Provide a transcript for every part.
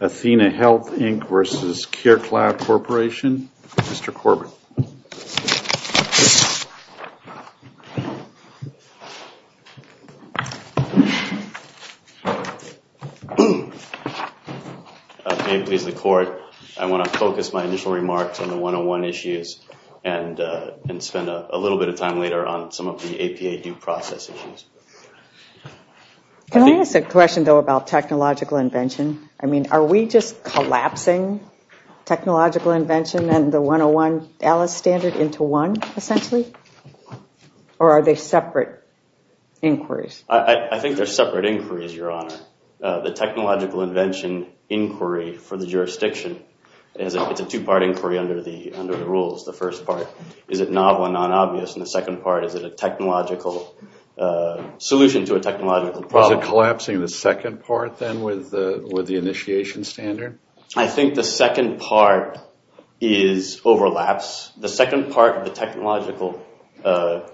https://www.carecloud.com https://www.carecloud.com 1622 Athenahealth, Inc. v. CareCloud Corporation Can I ask a question though about technological invention? I mean, are we just collapsing technological invention and the 101 Alice standard into one essentially? Or are they separate inquiries? I think they're separate inquiries, Your Honor. The technological invention inquiry for the jurisdiction is a two-part inquiry under the under the rules. The first part is it novel and non-obvious, and the second part is it a technological solution to a technological problem. Is it collapsing the second part then with the initiation standard? I think the second part is overlaps. The second part of the technological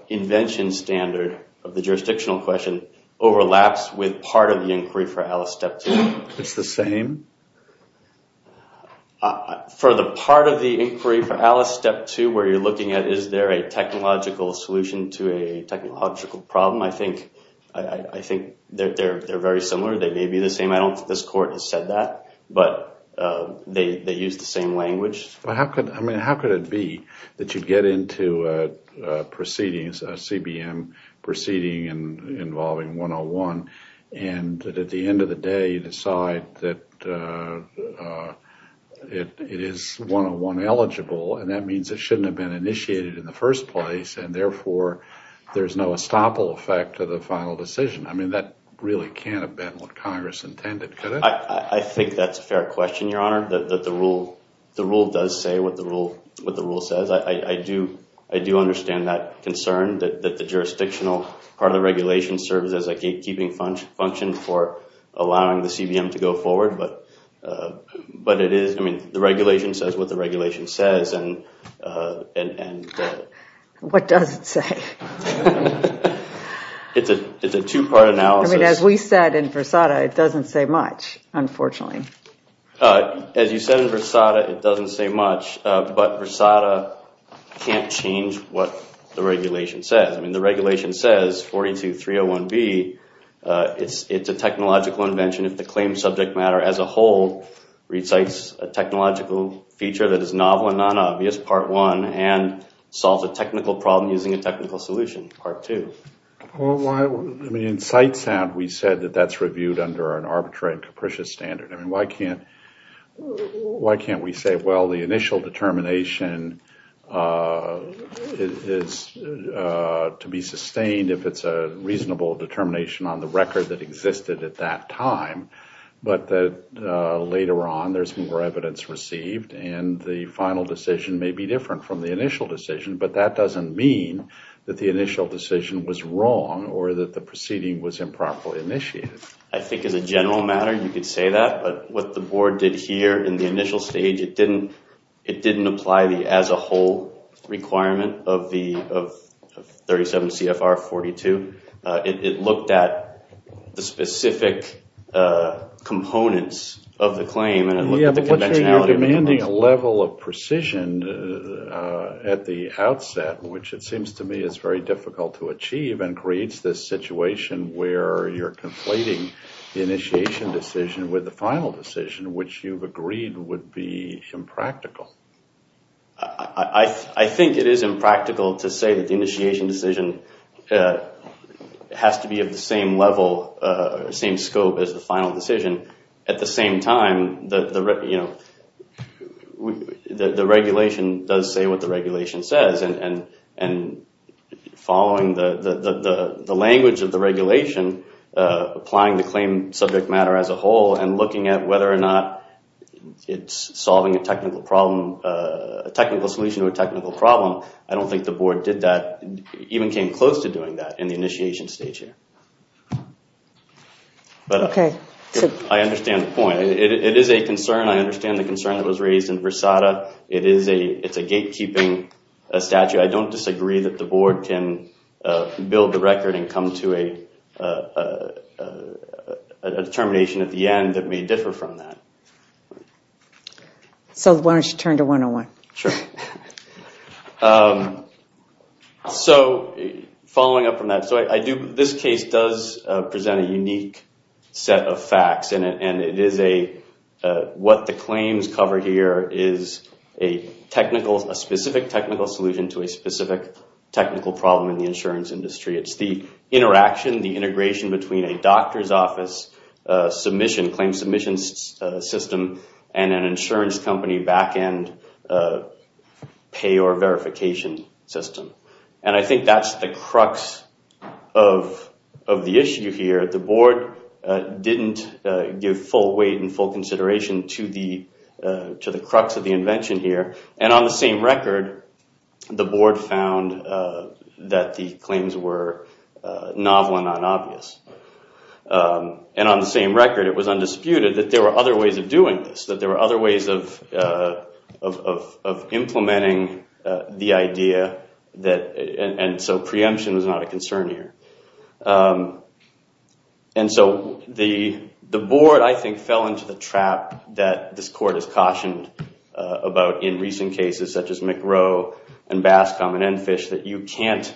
invention standard of the jurisdictional question overlaps with part of the inquiry for Alice Step 2. It's the same? For the part of the inquiry for Alice Step 2 where you're looking at is there a technological solution to a technological problem? I think they're very similar. They may be the same. I don't think this court has said that, but they use the same language. How could it be that you get into proceedings, a CBM proceeding involving 101, and at the end of the day you decide that it is 101 eligible, and that means it shouldn't have been initiated in the first place, and therefore there's no estoppel effect to the final decision. I mean that really can't have been what Congress intended, could it? I think that's a fair question, Your Honor, that the rule does say what the rule says. I do understand that concern that the jurisdictional part of the regulation serves as a gatekeeping function for allowing the CBM to go forward, but it is, I mean, the regulation says what the regulation says and What does it say? It's a two-part analysis. I mean as we said in Versada, it doesn't say much, unfortunately. As you said in Versada, it doesn't say much, but Versada can't change what the regulation says. I mean the regulation says 42.301B it's a technological invention if the claim subject matter as a whole recites a technological feature that is novel and non-obvious, part one, and solves a technical problem using a technical solution, part two. In CiteSound, we said that that's reviewed under an arbitrary and capricious standard. I mean, why can't why can't we say, well, the initial determination is to be sustained if it's a reasonable determination on the record that existed at that time, but the later on there's more evidence received and the final decision may be different from the initial decision, but that doesn't mean that the initial decision was wrong or that the proceeding was improperly initiated. I think as a general matter, you could say that, but what the board did here in the initial stage, it didn't apply the as-a-whole requirement of 37 CFR 42. It looked at the specific components of the claim and it looked at the conventionality of the claim. You're demanding a level of precision at the outset, which it seems to me is very difficult to achieve and creates this situation where you're conflating the initiation decision with the final decision, which you've agreed would be impractical. I think it is impractical to say that the initiation decision has to be of the same level, same scope as the final decision. At the same time, the regulation does say what the regulation says and following the language of the regulation, applying the claim subject matter as a whole and looking at whether or not it's solving a technical problem, a technical solution to a technical problem. I don't think the board did that. It even came close to doing that in the initiation stage here. Okay, I understand the point. It is a concern. I understand the concern that was raised in Versada. It is a gatekeeping statute. I don't disagree that the board can build the record and come to a determination at the end that may differ from that. So why don't you turn to 101? Sure. So following up from that, this case does present a unique set of facts and it is a what the claims cover here is a technical, a specific technical solution to a specific technical problem in the insurance industry. It's the interaction, the integration between a doctor's office submission, claim submission system and an insurance company back-end pay or verification system. And I think that's the crux of the issue here. The board didn't give full weight and full consideration to the to the crux of the invention here. And on the same record, the board found that the claims were novel and not obvious. And on the same record, it was undisputed that there were other ways of doing this, that there were other ways of implementing the idea that, and so preemption was not a concern here. And so the the board I think fell into the trap that this court has cautioned about in recent cases such as McRow and Bascom and Enfish that you can't,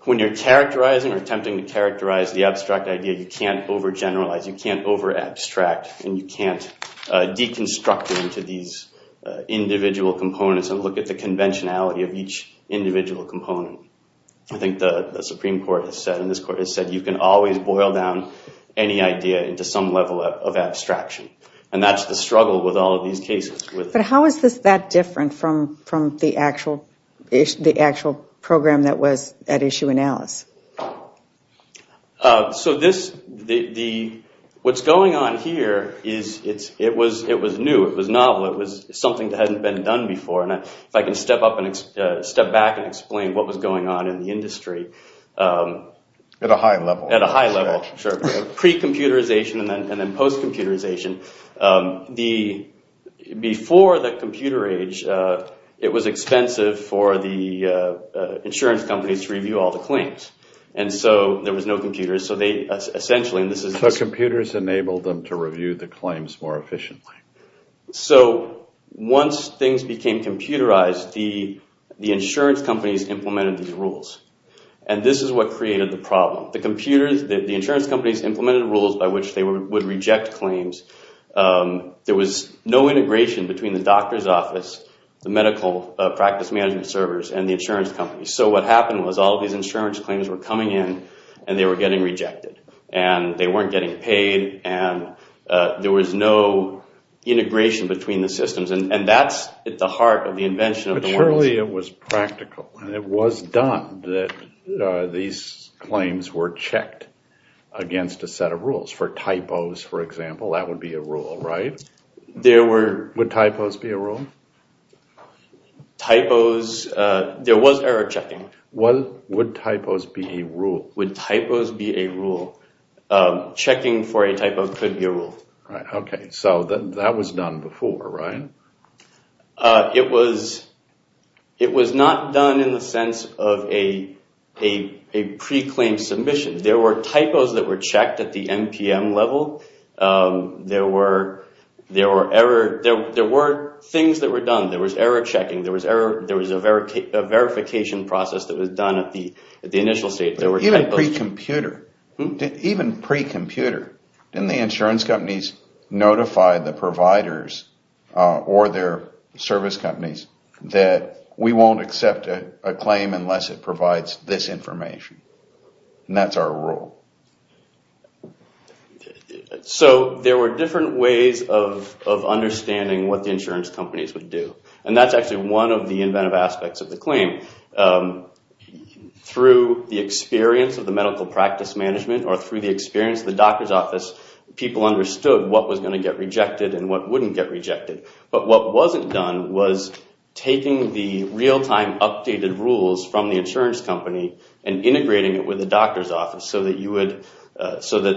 when you're characterizing or attempting to characterize the abstract idea, you can't over generalize, you can't over abstract, and you can't deconstruct it into these individual components and look at the conventionality of each individual component. I think the Supreme Court has said, and this court has said, you can always boil down any idea into some level of abstraction. And that's the struggle with all of these cases. But how is this that different from from the actual, the actual program that was at issue in Alice? So this, the what's going on here is it's, it was, it was new, it was novel, it was something that hadn't been done before. And if I can step up and step back and explain what was going on in the industry. At a high level. At a high level, sure. Pre-computerization and then post-computerization. The, before the computer age, it was expensive for the insurance companies to review all the claims. And so there was no computers. So they, essentially, and this is... So computers enabled them to review the claims more efficiently. So, once things became computerized, the, the insurance companies implemented these rules. And this is what created the problem. The computers, the insurance companies implemented rules by which they would reject claims. There was no integration between the doctor's office, the medical practice management servers, and the insurance company. So what happened was all these insurance claims were coming in and they were getting rejected. And they weren't getting paid. And there was no integration between the systems. And that's at the heart of the invention of the world. But surely it was practical. And it was done that these claims were checked against a set of rules. For typos, for example, that would be a rule, right? There were... Would typos be a rule? Typos... There was error checking. What would typos be a rule? Would typos be a rule? Checking for a typo could be a rule. Right. Okay. So that was done before, right? It was... It was not done in the sense of a pre-claim submission. There were typos that were checked at the NPM level. There were... There were error... There were things that were done. There was error checking. There was error... There was a verification process that was done at the initial stage. There were typos... Even pre-computer... Even pre-computer, didn't the insurance companies notify the providers or their service companies that we won't accept a claim unless it provides this information? And that's our rule. So there were different ways of understanding what the insurance companies would do. And that's actually one of the inventive aspects of the claim. Through the experience of the medical practice management or through the experience of the doctor's office, people understood what was going to get rejected and what wouldn't get rejected. But what wasn't done was taking the real-time updated rules from the insurance company and integrating it with the doctor's office so that you would... At the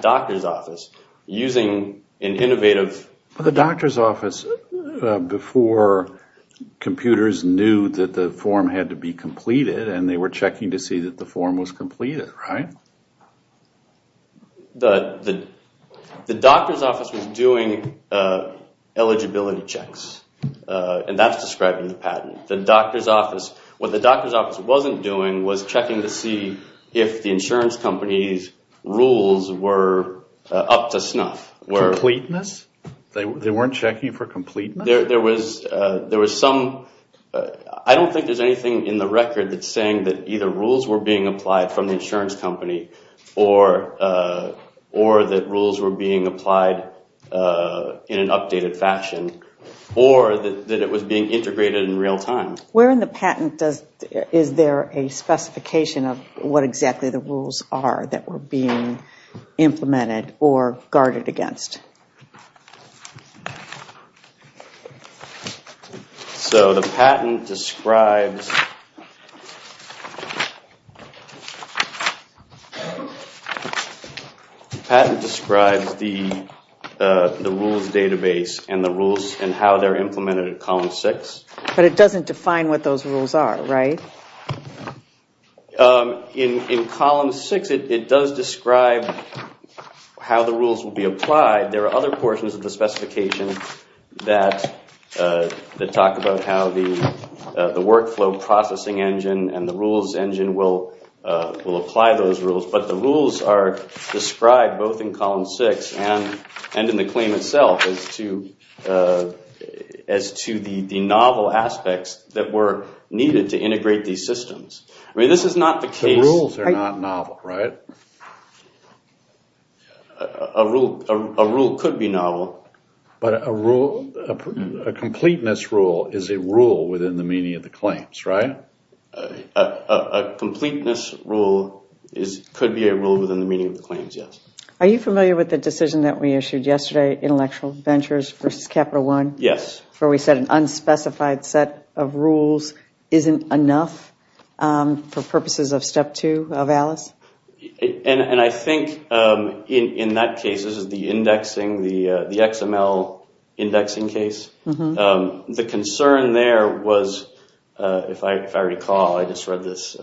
doctor's office, using an innovative... But the doctor's office, before computers knew that the form had to be completed and they were checking to see that the form was completed, right? The... The doctor's office was doing eligibility checks. And that's describing the patent. The doctor's office... What the doctor's office wasn't doing was checking to see if the insurance company's up to snuff. Completeness? They weren't checking for completeness? There was... There was some... I don't think there's anything in the record that's saying that either rules were being applied from the insurance company or that rules were being applied in an updated fashion or that it was being integrated in real time. Where in the patent does... Is there a specification of what exactly the rules are that were being implemented or guarded against? So the patent describes... The patent describes the the rules database and the rules and how they're implemented at column six. But it doesn't define what those rules are, right? In column six, it does describe how the rules will be applied. There are other portions of the specification that that talk about how the workflow processing engine and the rules engine will will apply those rules. But the rules are described both in column six and in the claim itself as to as to the novel aspects that were needed to integrate these systems. I mean, this is not the case... The rules are not novel, right? A rule could be novel. But a rule, a completeness rule, is a rule within the meaning of the claims, right? A completeness rule could be a rule within the meaning of the claims, yes. Are you familiar with the decision that we issued yesterday, Intellectual Ventures versus Capital One? Yes. Where we said an unspecified set of rules isn't enough for purposes of step two of ALICE? And I think in that case, this is the indexing, the XML indexing case. The concern there was, if I recall, I just read this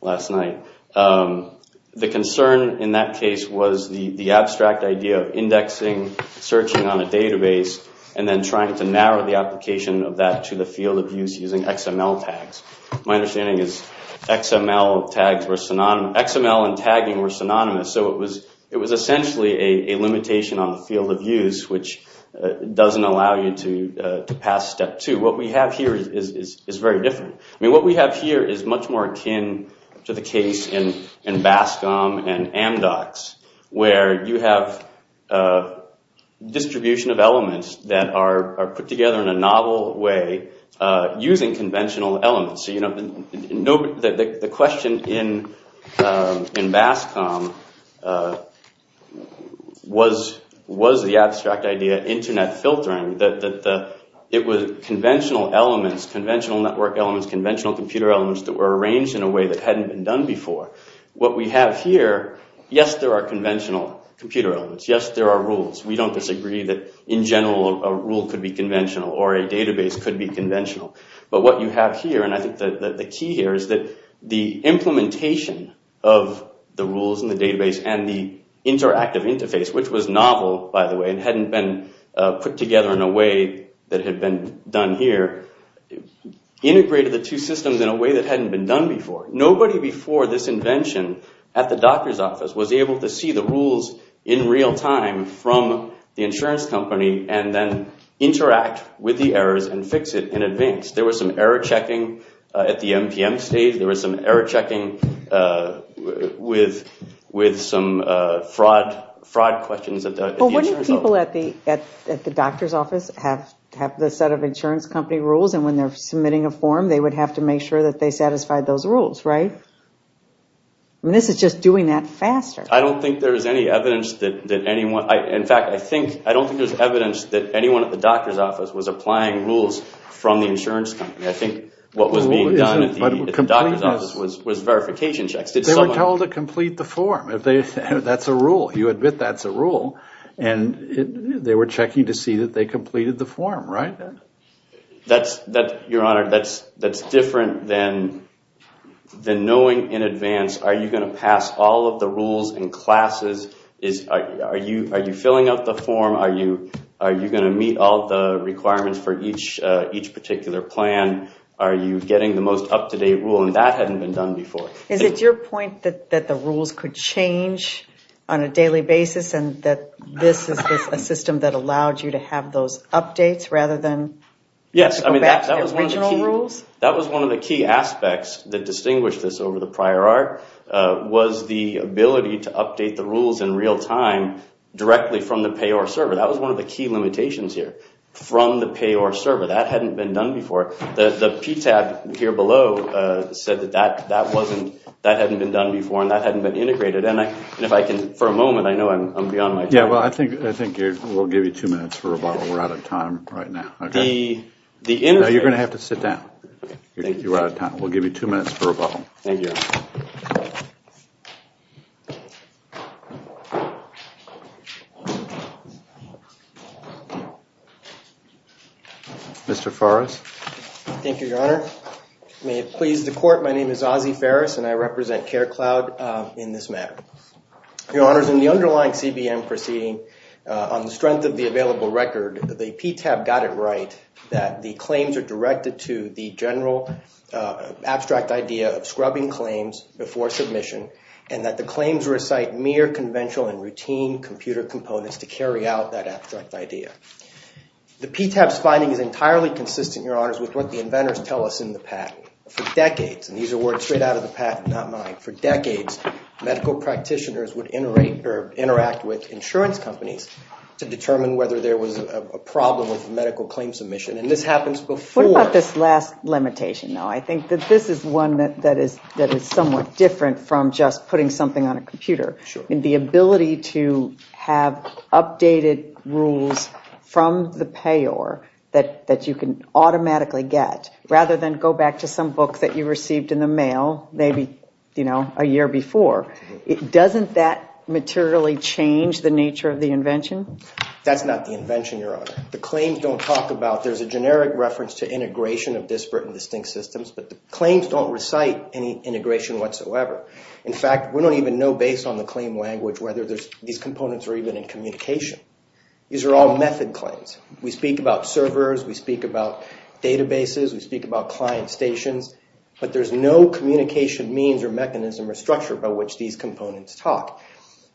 last night, the concern in that case was the the abstract idea of indexing, searching on a database, and then trying to narrow the application of that to the field of use using XML tags. My understanding is XML and tagging were synonymous, so it was essentially a limitation on the field of use, which doesn't allow you to pass step two. What we have here is very different. I mean, what we have here is much more akin to the case in Bascom and Amdocs, where you have distribution of elements that are put together in a novel way using conventional elements. So, you know, the question in Bascom was the abstract idea, internet filtering, that it was conventional elements, conventional network elements, conventional computer elements that were arranged in a way that hadn't been done before. What we have here, yes, there are conventional computer elements. Yes, there are rules. We don't disagree that, in general, a rule could be conventional or a database could be conventional. But what you have here, and I think that the key here, is that the implementation of the rules in the database and the interactive interface, which was novel, by the way, and hadn't been put together in a way that had been done here, integrated the two systems in a way that hadn't been done before. Nobody before this invention at the doctor's office was able to see the rules in real time from the insurance company and then interact with the errors and fix it in advance. There was some error checking at the MPM stage. There was some error checking with some fraud questions at the insurance office. But wouldn't people at the doctor's office have the set of insurance company rules, and when they're submitting a form, they would have to make sure that they satisfied those rules, right? This is just doing that faster. I don't think there is any evidence that anyone, in fact, I think, I don't think there's evidence that anyone at the doctor's office was applying rules from the insurance company. I think what was being done at the doctor's office was verification checks. They were told to complete the form. That's a rule. You admit that's a rule and they were checking to see that they completed the form, right? Your Honor, that's different than knowing in advance, are you going to pass all of the rules and classes? Are you filling out the form? Are you going to meet all the requirements for each particular plan? Are you getting the most up-to-date rule? And that hadn't been done before. Is it your point that the rules could change on a daily basis and that this is a system that allowed you to have those Yes, I mean that was one of the key rules. That was one of the key aspects that distinguished this over the prior art was the ability to update the rules in real time directly from the payor server. That was one of the key limitations here. From the payor server, that hadn't been done before. The PTAB here below said that that wasn't, that hadn't been done before and that hadn't been integrated and if I can, for a moment, I know I'm beyond my time. Yeah, well, I think we'll give you two minutes for rebuttal. We're out of time right now. Now you're going to have to sit down. We'll give you two minutes for rebuttal. Mr. Farris. Thank you, Your Honor. May it please the court, my name is Ozzie Farris and I represent CareCloud in this matter. Your Honor, in the underlying CBM proceeding on the strength of the available record, the PTAB got it right that the claims are directed to the general abstract idea of scrubbing claims before submission and that the claims recite mere conventional and routine computer components to carry out that abstract idea. The PTAB's finding is entirely consistent, Your Honors, with what the inventors tell us in the patent. For decades, and these are words straight out of the patent, not mine, for decades medical practitioners would interact with insurance companies to determine whether there was a problem with medical claim submission, and this happens before... What about this last limitation, though? I think that this is one that is somewhat different from just putting something on a computer. The ability to have updated rules from the payor that you can Doesn't that materially change the nature of the invention? That's not the invention, Your Honor. The claims don't talk about... There's a generic reference to integration of disparate and distinct systems, but the claims don't recite any integration whatsoever. In fact, we don't even know based on the claim language whether these components are even in communication. These are all method claims. We speak about servers, we speak about databases, we speak about client stations, but there's no communication means or mechanism or structure by which these components talk,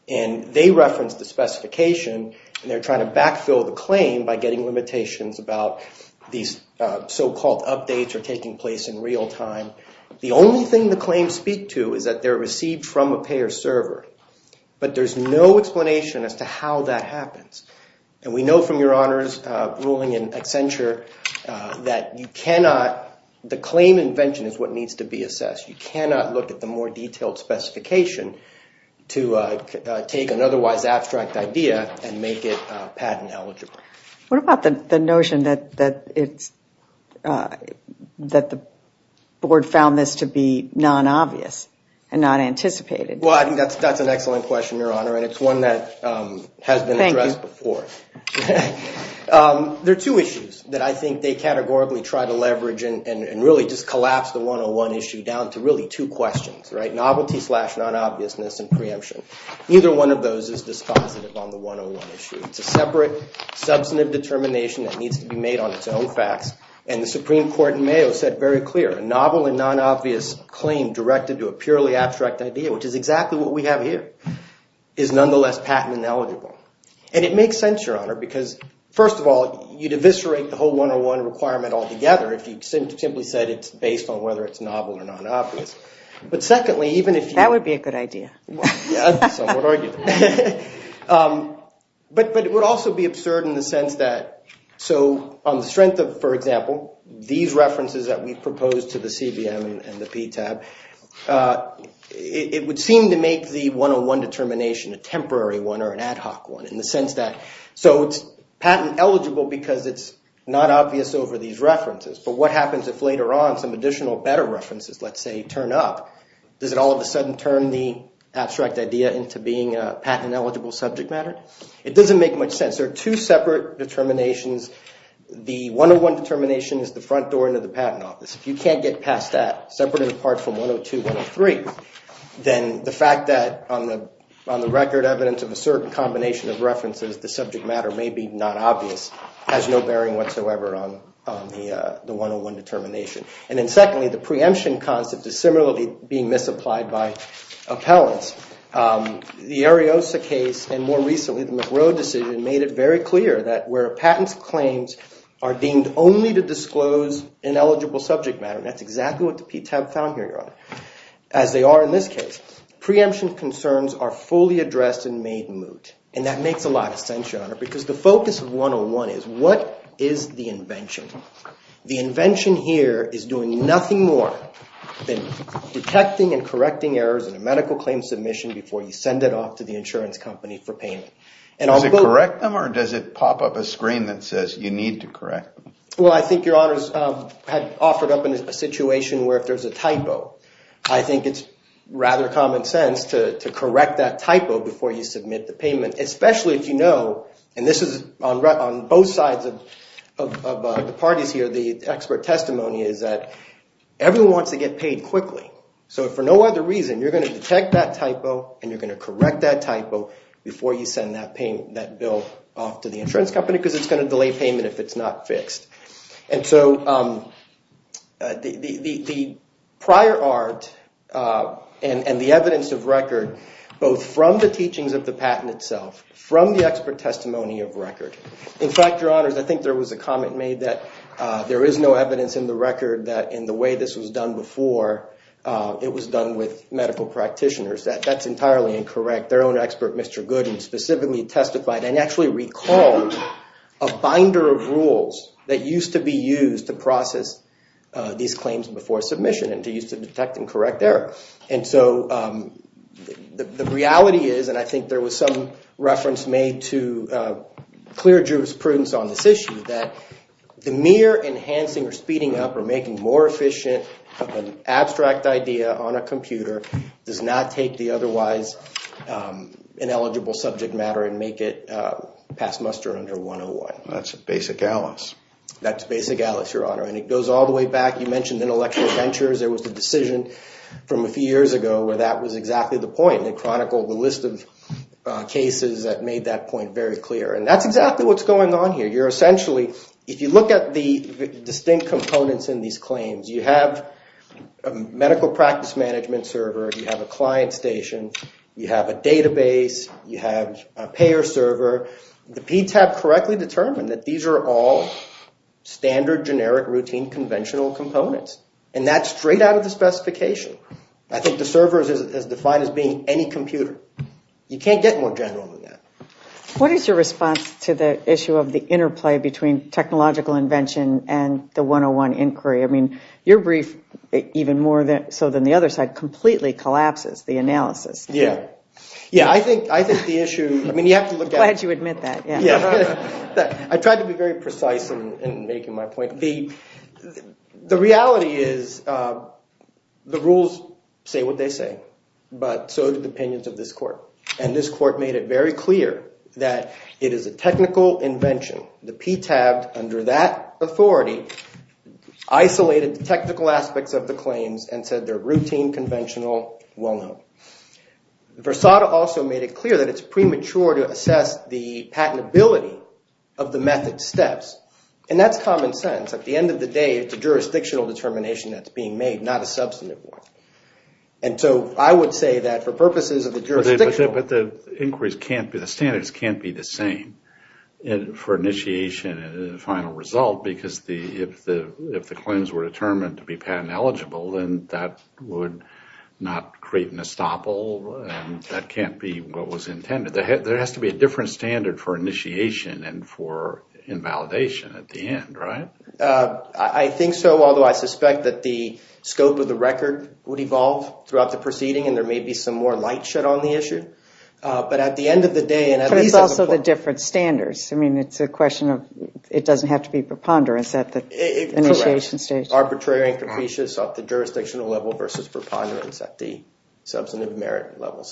and they reference the specification, and they're trying to backfill the claim by getting limitations about these so-called updates or taking place in real time. The only thing the claims speak to is that they're received from a payor server, but there's no explanation as to how that happens, and we know from Your Honors' ruling in Accenture that you cannot... The claim invention is what needs to be assessed. You cannot look at the more detailed specification to take an otherwise abstract idea and make it patent eligible. What about the notion that it's... that the board found this to be non-obvious and not anticipated? Well, I think that's an excellent question, Your Honor, and it's one that has been addressed before. There are two issues that I think they categorically try to leverage and really just collapse the 101 issue down to really two questions, right? Novelty slash non-obviousness and preemption. Neither one of those is dispositive on the 101 issue. It's a separate substantive determination that needs to be made on its own facts, and the Supreme Court in Mayo said very clear. A novel and non-obvious claim directed to a purely abstract idea, which is exactly what we have here, is nonsense, Your Honor, because, first of all, you'd eviscerate the whole 101 requirement altogether if you simply said it's based on whether it's novel or non-obvious. But secondly, even if you... That would be a good idea. But it would also be absurd in the sense that, so on the strength of, for example, these references that we proposed to the CBM and the PTAB, it would seem to make the 101 determination a temporary one or an ad hoc one in the sense that... So it's patent eligible because it's not obvious over these references, but what happens if later on some additional better references, let's say, turn up? Does it all of a sudden turn the abstract idea into being a patent eligible subject matter? It doesn't make much sense. There are two separate determinations. The 101 determination is the front door into the Patent Office. If you can't get past that, separate and apart from 102 and 103, then the fact that, on the record evidence of a certain combination of references, the subject matter may be not obvious has no bearing whatsoever on the 101 determination. And then secondly, the preemption concept is similarly being misapplied by appellants. The Ariosa case and, more recently, the McGrow decision made it very clear that where a patent's claims are deemed only to disclose ineligible subject matter, and that's exactly what the PTAB found here, Your Honor, as they are in this case, preemption concerns are fully addressed and made moot. And that makes a lot of sense, Your Honor, because the focus of 101 is, what is the invention? The invention here is doing nothing more than detecting and correcting errors in a medical claim submission before you send it off to the insurance company for payment. Does it correct them, or does it pop up a screen that says you need to correct? Well, I think, Your Honors, I've offered up a situation where if there's a typo, I think it's rather common sense to correct that typo before you submit the payment, especially if you know, and this is on both sides of the parties here, the expert testimony is that everyone wants to get paid quickly. So, for no other reason, you're going to detect that typo and you're going to correct that typo before you send that bill off to the insurance company, because it's going to delay payment if it's not fixed. And so, the prior art and the evidence of record, both from the teachings of the patent itself, from the expert testimony of record. In fact, Your Honors, I think there was a comment made that there is no evidence in the record that in the way this was done before, it was done with medical practitioners. That's entirely incorrect. Their own expert, Mr. Gooden, specifically testified and actually recalled a binder of rules that used to be used to process these claims before submission and to use to detect and correct error. And so, the reality is, and I think there was some reference made to clear jurisprudence on this issue, that the mere enhancing or speeding up or making more efficient of an abstract idea on a computer does not take the otherwise ineligible subject matter and make it pass muster under 101. That's basic Alice. That's basic Alice, Your Honor, and it goes all the way back. You mentioned intellectual ventures. There was a decision from a few years ago where that was exactly the point. It chronicled the list of cases that made that point very clear. And that's exactly what's going on here. You're essentially, if you look at the distinct components in these claims, you have a medical practice management server, you have a client station, you have a database, you have a payer server. The PTAB correctly determined that these are all standard generic routine conventional components, and that's straight out of the specification. I think the server is defined as being any computer. You can't get more general than that. What is your response to the issue of the interplay between technological invention and the 101 inquiry? I mean, your brief, even more so than the other side, completely collapses the analysis. Yeah. Yeah, I think the issue, I mean, you have to look at it. I'm glad you admit that. Yeah. I tried to be very precise in making my point. The reality is the rules say what they say, but so do the opinions of this court. And this court made it very clear that it is a technical invention, the PTAB under that authority isolated the technical aspects of the claims and said they're routine, conventional, well-known. Versada also made it clear that it's premature to assess the patentability of the method steps. And that's common sense. At the end of the day, it's a jurisdictional determination that's being made, not a substantive one. And so I would say that for purposes of the jurisdiction... But the inquiries can't be, the standards can't be the same for initiation and the final result because if the claims were determined to be patent eligible, then that would not create an estoppel. That can't be what was intended. There has to be a different standard for initiation and for invalidation at the end, right? I think so, although I suspect that the scope of the record would evolve throughout the proceeding and there may be some more light shed on the issue. But at the end of the day... But it's also the different standards. I mean, it's a question of it doesn't have to be preponderance at the initiation stage. Arbitrary and capricious at the jurisdictional level versus preponderance at the substantive merit level.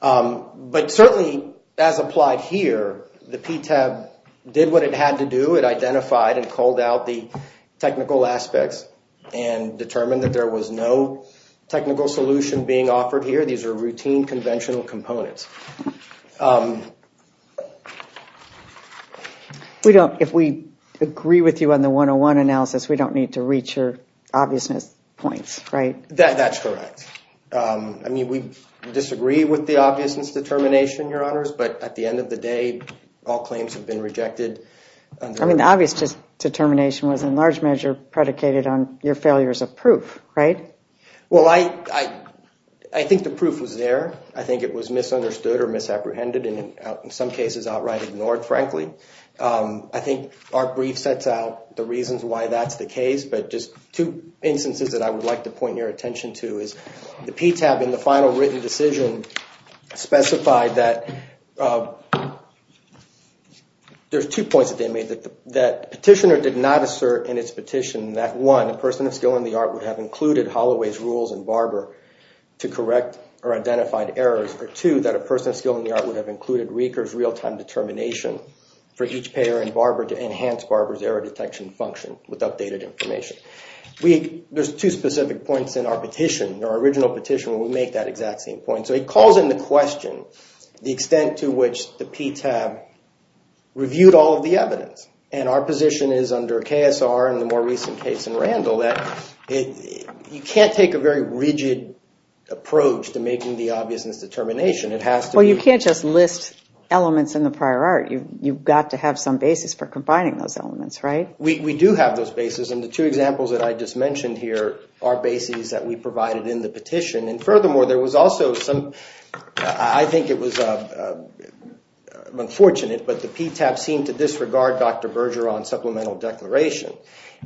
But certainly as applied here, the PTAB did what it had to do. It identified and called out the technical aspects and determined that there was no technical solution being offered here. These are routine conventional components. We don't, if we agree with you on the 101 analysis, we don't need to reach your obviousness points, right? That's correct. I mean, we disagree with the obviousness determination, Your Honors, but at the end of the day all claims have been rejected. I mean, the obvious determination was in large measure predicated on your failures of proof, right? Well, I think the proof was there. I think it was misunderstood or misapprehended and in some cases outright ignored, frankly. I think our brief sets out the reasons why that's the case, but just two instances that I would like to point your attention to is the PTAB in the final written decision specified that there's two points that they made that the petitioner did not assert in its petition that, one, a person of skill in the art would have included Holloway's rules and Barber to correct or identified errors, or, two, that a person of skill in the art would have included Reeker's real-time determination for each payer and Barber to enhance Barber's error detection function with updated information. There's two specific points in our petition, our original petition, where we make that exact same point. So he calls in the question the extent to which the PTAB reviewed all of the evidence. And our position is, under KSR and the more recent case in Randall, that you can't take a very rigid approach to making the obviousness determination. It has to be... Well, you can't just list elements in the prior art. You've got to have some basis for combining those elements, right? We do have those basis, and the two examples that I just mentioned here are basis that we provided in the petition. And furthermore, there was also some... I think it was unfortunate, but the PTAB seemed to disregard Dr. Berger on supplemental declaration.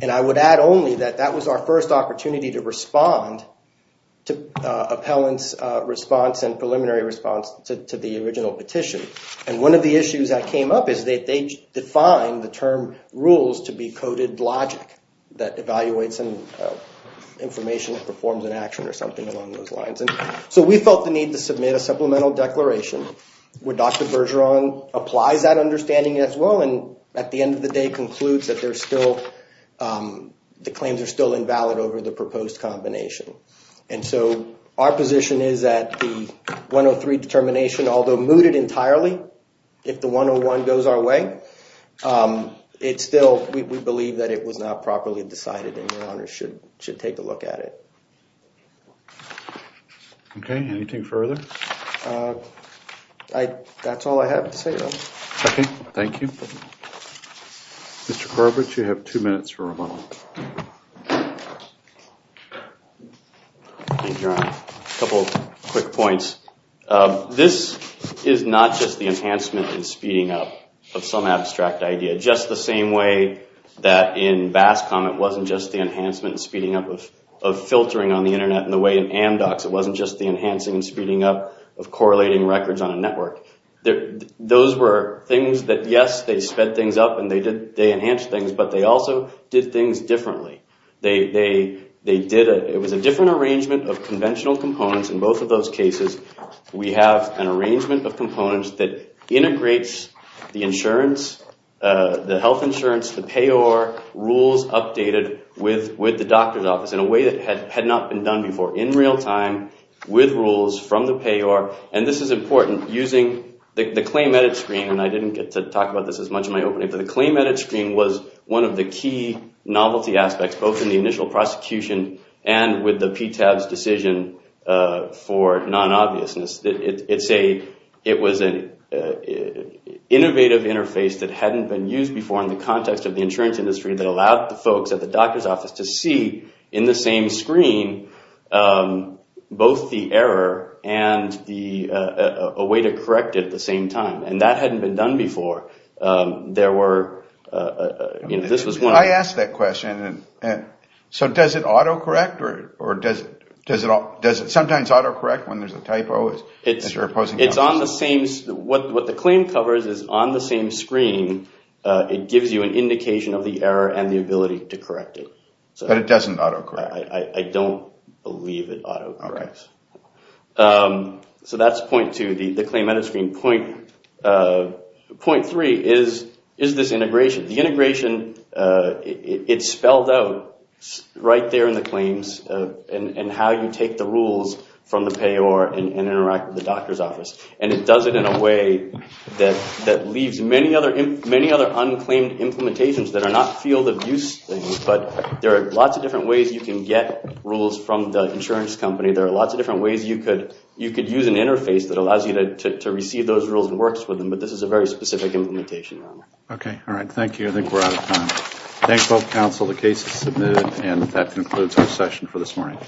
And I would add only that that was our first opportunity to respond to appellant's response and preliminary response to the original petition. And one of the issues that came up is that they defined the term rules to be coded logic that evaluates and information that performs an action or something along those lines. And so we felt the need to submit a supplemental declaration where Dr. Bergeron applies that understanding as well, and at the end of the day concludes that there's still... the claims are still invalid over the proposed combination. And so our position is that the 103 determination, although mooted entirely, if the 101 goes our way, it's still... we believe that it was not properly decided and your honors should should take a look at it. Okay, anything further? I... that's all I have to say. Okay. Thank you. Mr. Corbett, you have two minutes for rebuttal. A couple of quick points. This is not just the enhancement and speeding up of some abstract idea, just the same way that in BASCOM it wasn't just the enhancement and speeding up of filtering on the internet in the way in AMDOX, it wasn't just the enhancing and speeding up of correlating records on a network. There... those were things that, yes, they sped things up and they did... they enhanced things, but they also did things differently. They... they did... it was a different arrangement of conventional components in both of those cases. We have an arrangement of components that integrates the insurance, the health insurance, the payor, rules updated with... with the doctor's office in a way that had not been done before in real time with rules from the payor. And this is important, using the claim edit screen, and I didn't get to talk about this as much in my opening, but the claim edit screen was one of the key novelty aspects, both in the initial prosecution and with the PTAB's decision for non-obviousness. It's a... it was an innovative interface that hadn't been used before in the context of the insurance industry that allowed the folks at the doctor's office to see, in the same screen, both the error and the... a way to correct it at the same time, and that hadn't been done before. There were... you know, this was one... I asked that question, and... and... so does it auto-correct or... or does... does it... does it sometimes auto-correct when there's a typo? It's... it's on the same... what... what the claim covers is, on the same screen, it gives you an indication of the error and the ability to correct it. But it doesn't auto-correct? I... I don't believe it auto-corrects. So that's point two, the... the claim edit screen. Point... point three is... is this integration. The integration... it's spelled out right there in the claims, and... and how you take the rules from the payor and... and interact with the doctor's office. And it does it in a way that... that leaves many other... many other unclaimed implementations that are not field-of-use things, but there are lots of different ways you can get rules from the insurance company. There are lots of different ways you could... you could use an interface that allows you to... to receive those rules and works with them, but this is a very specific implementation. Okay. All right. Thank you. I think we're out of time. Thank both counsel. The case is submitted, and that concludes our session for this morning.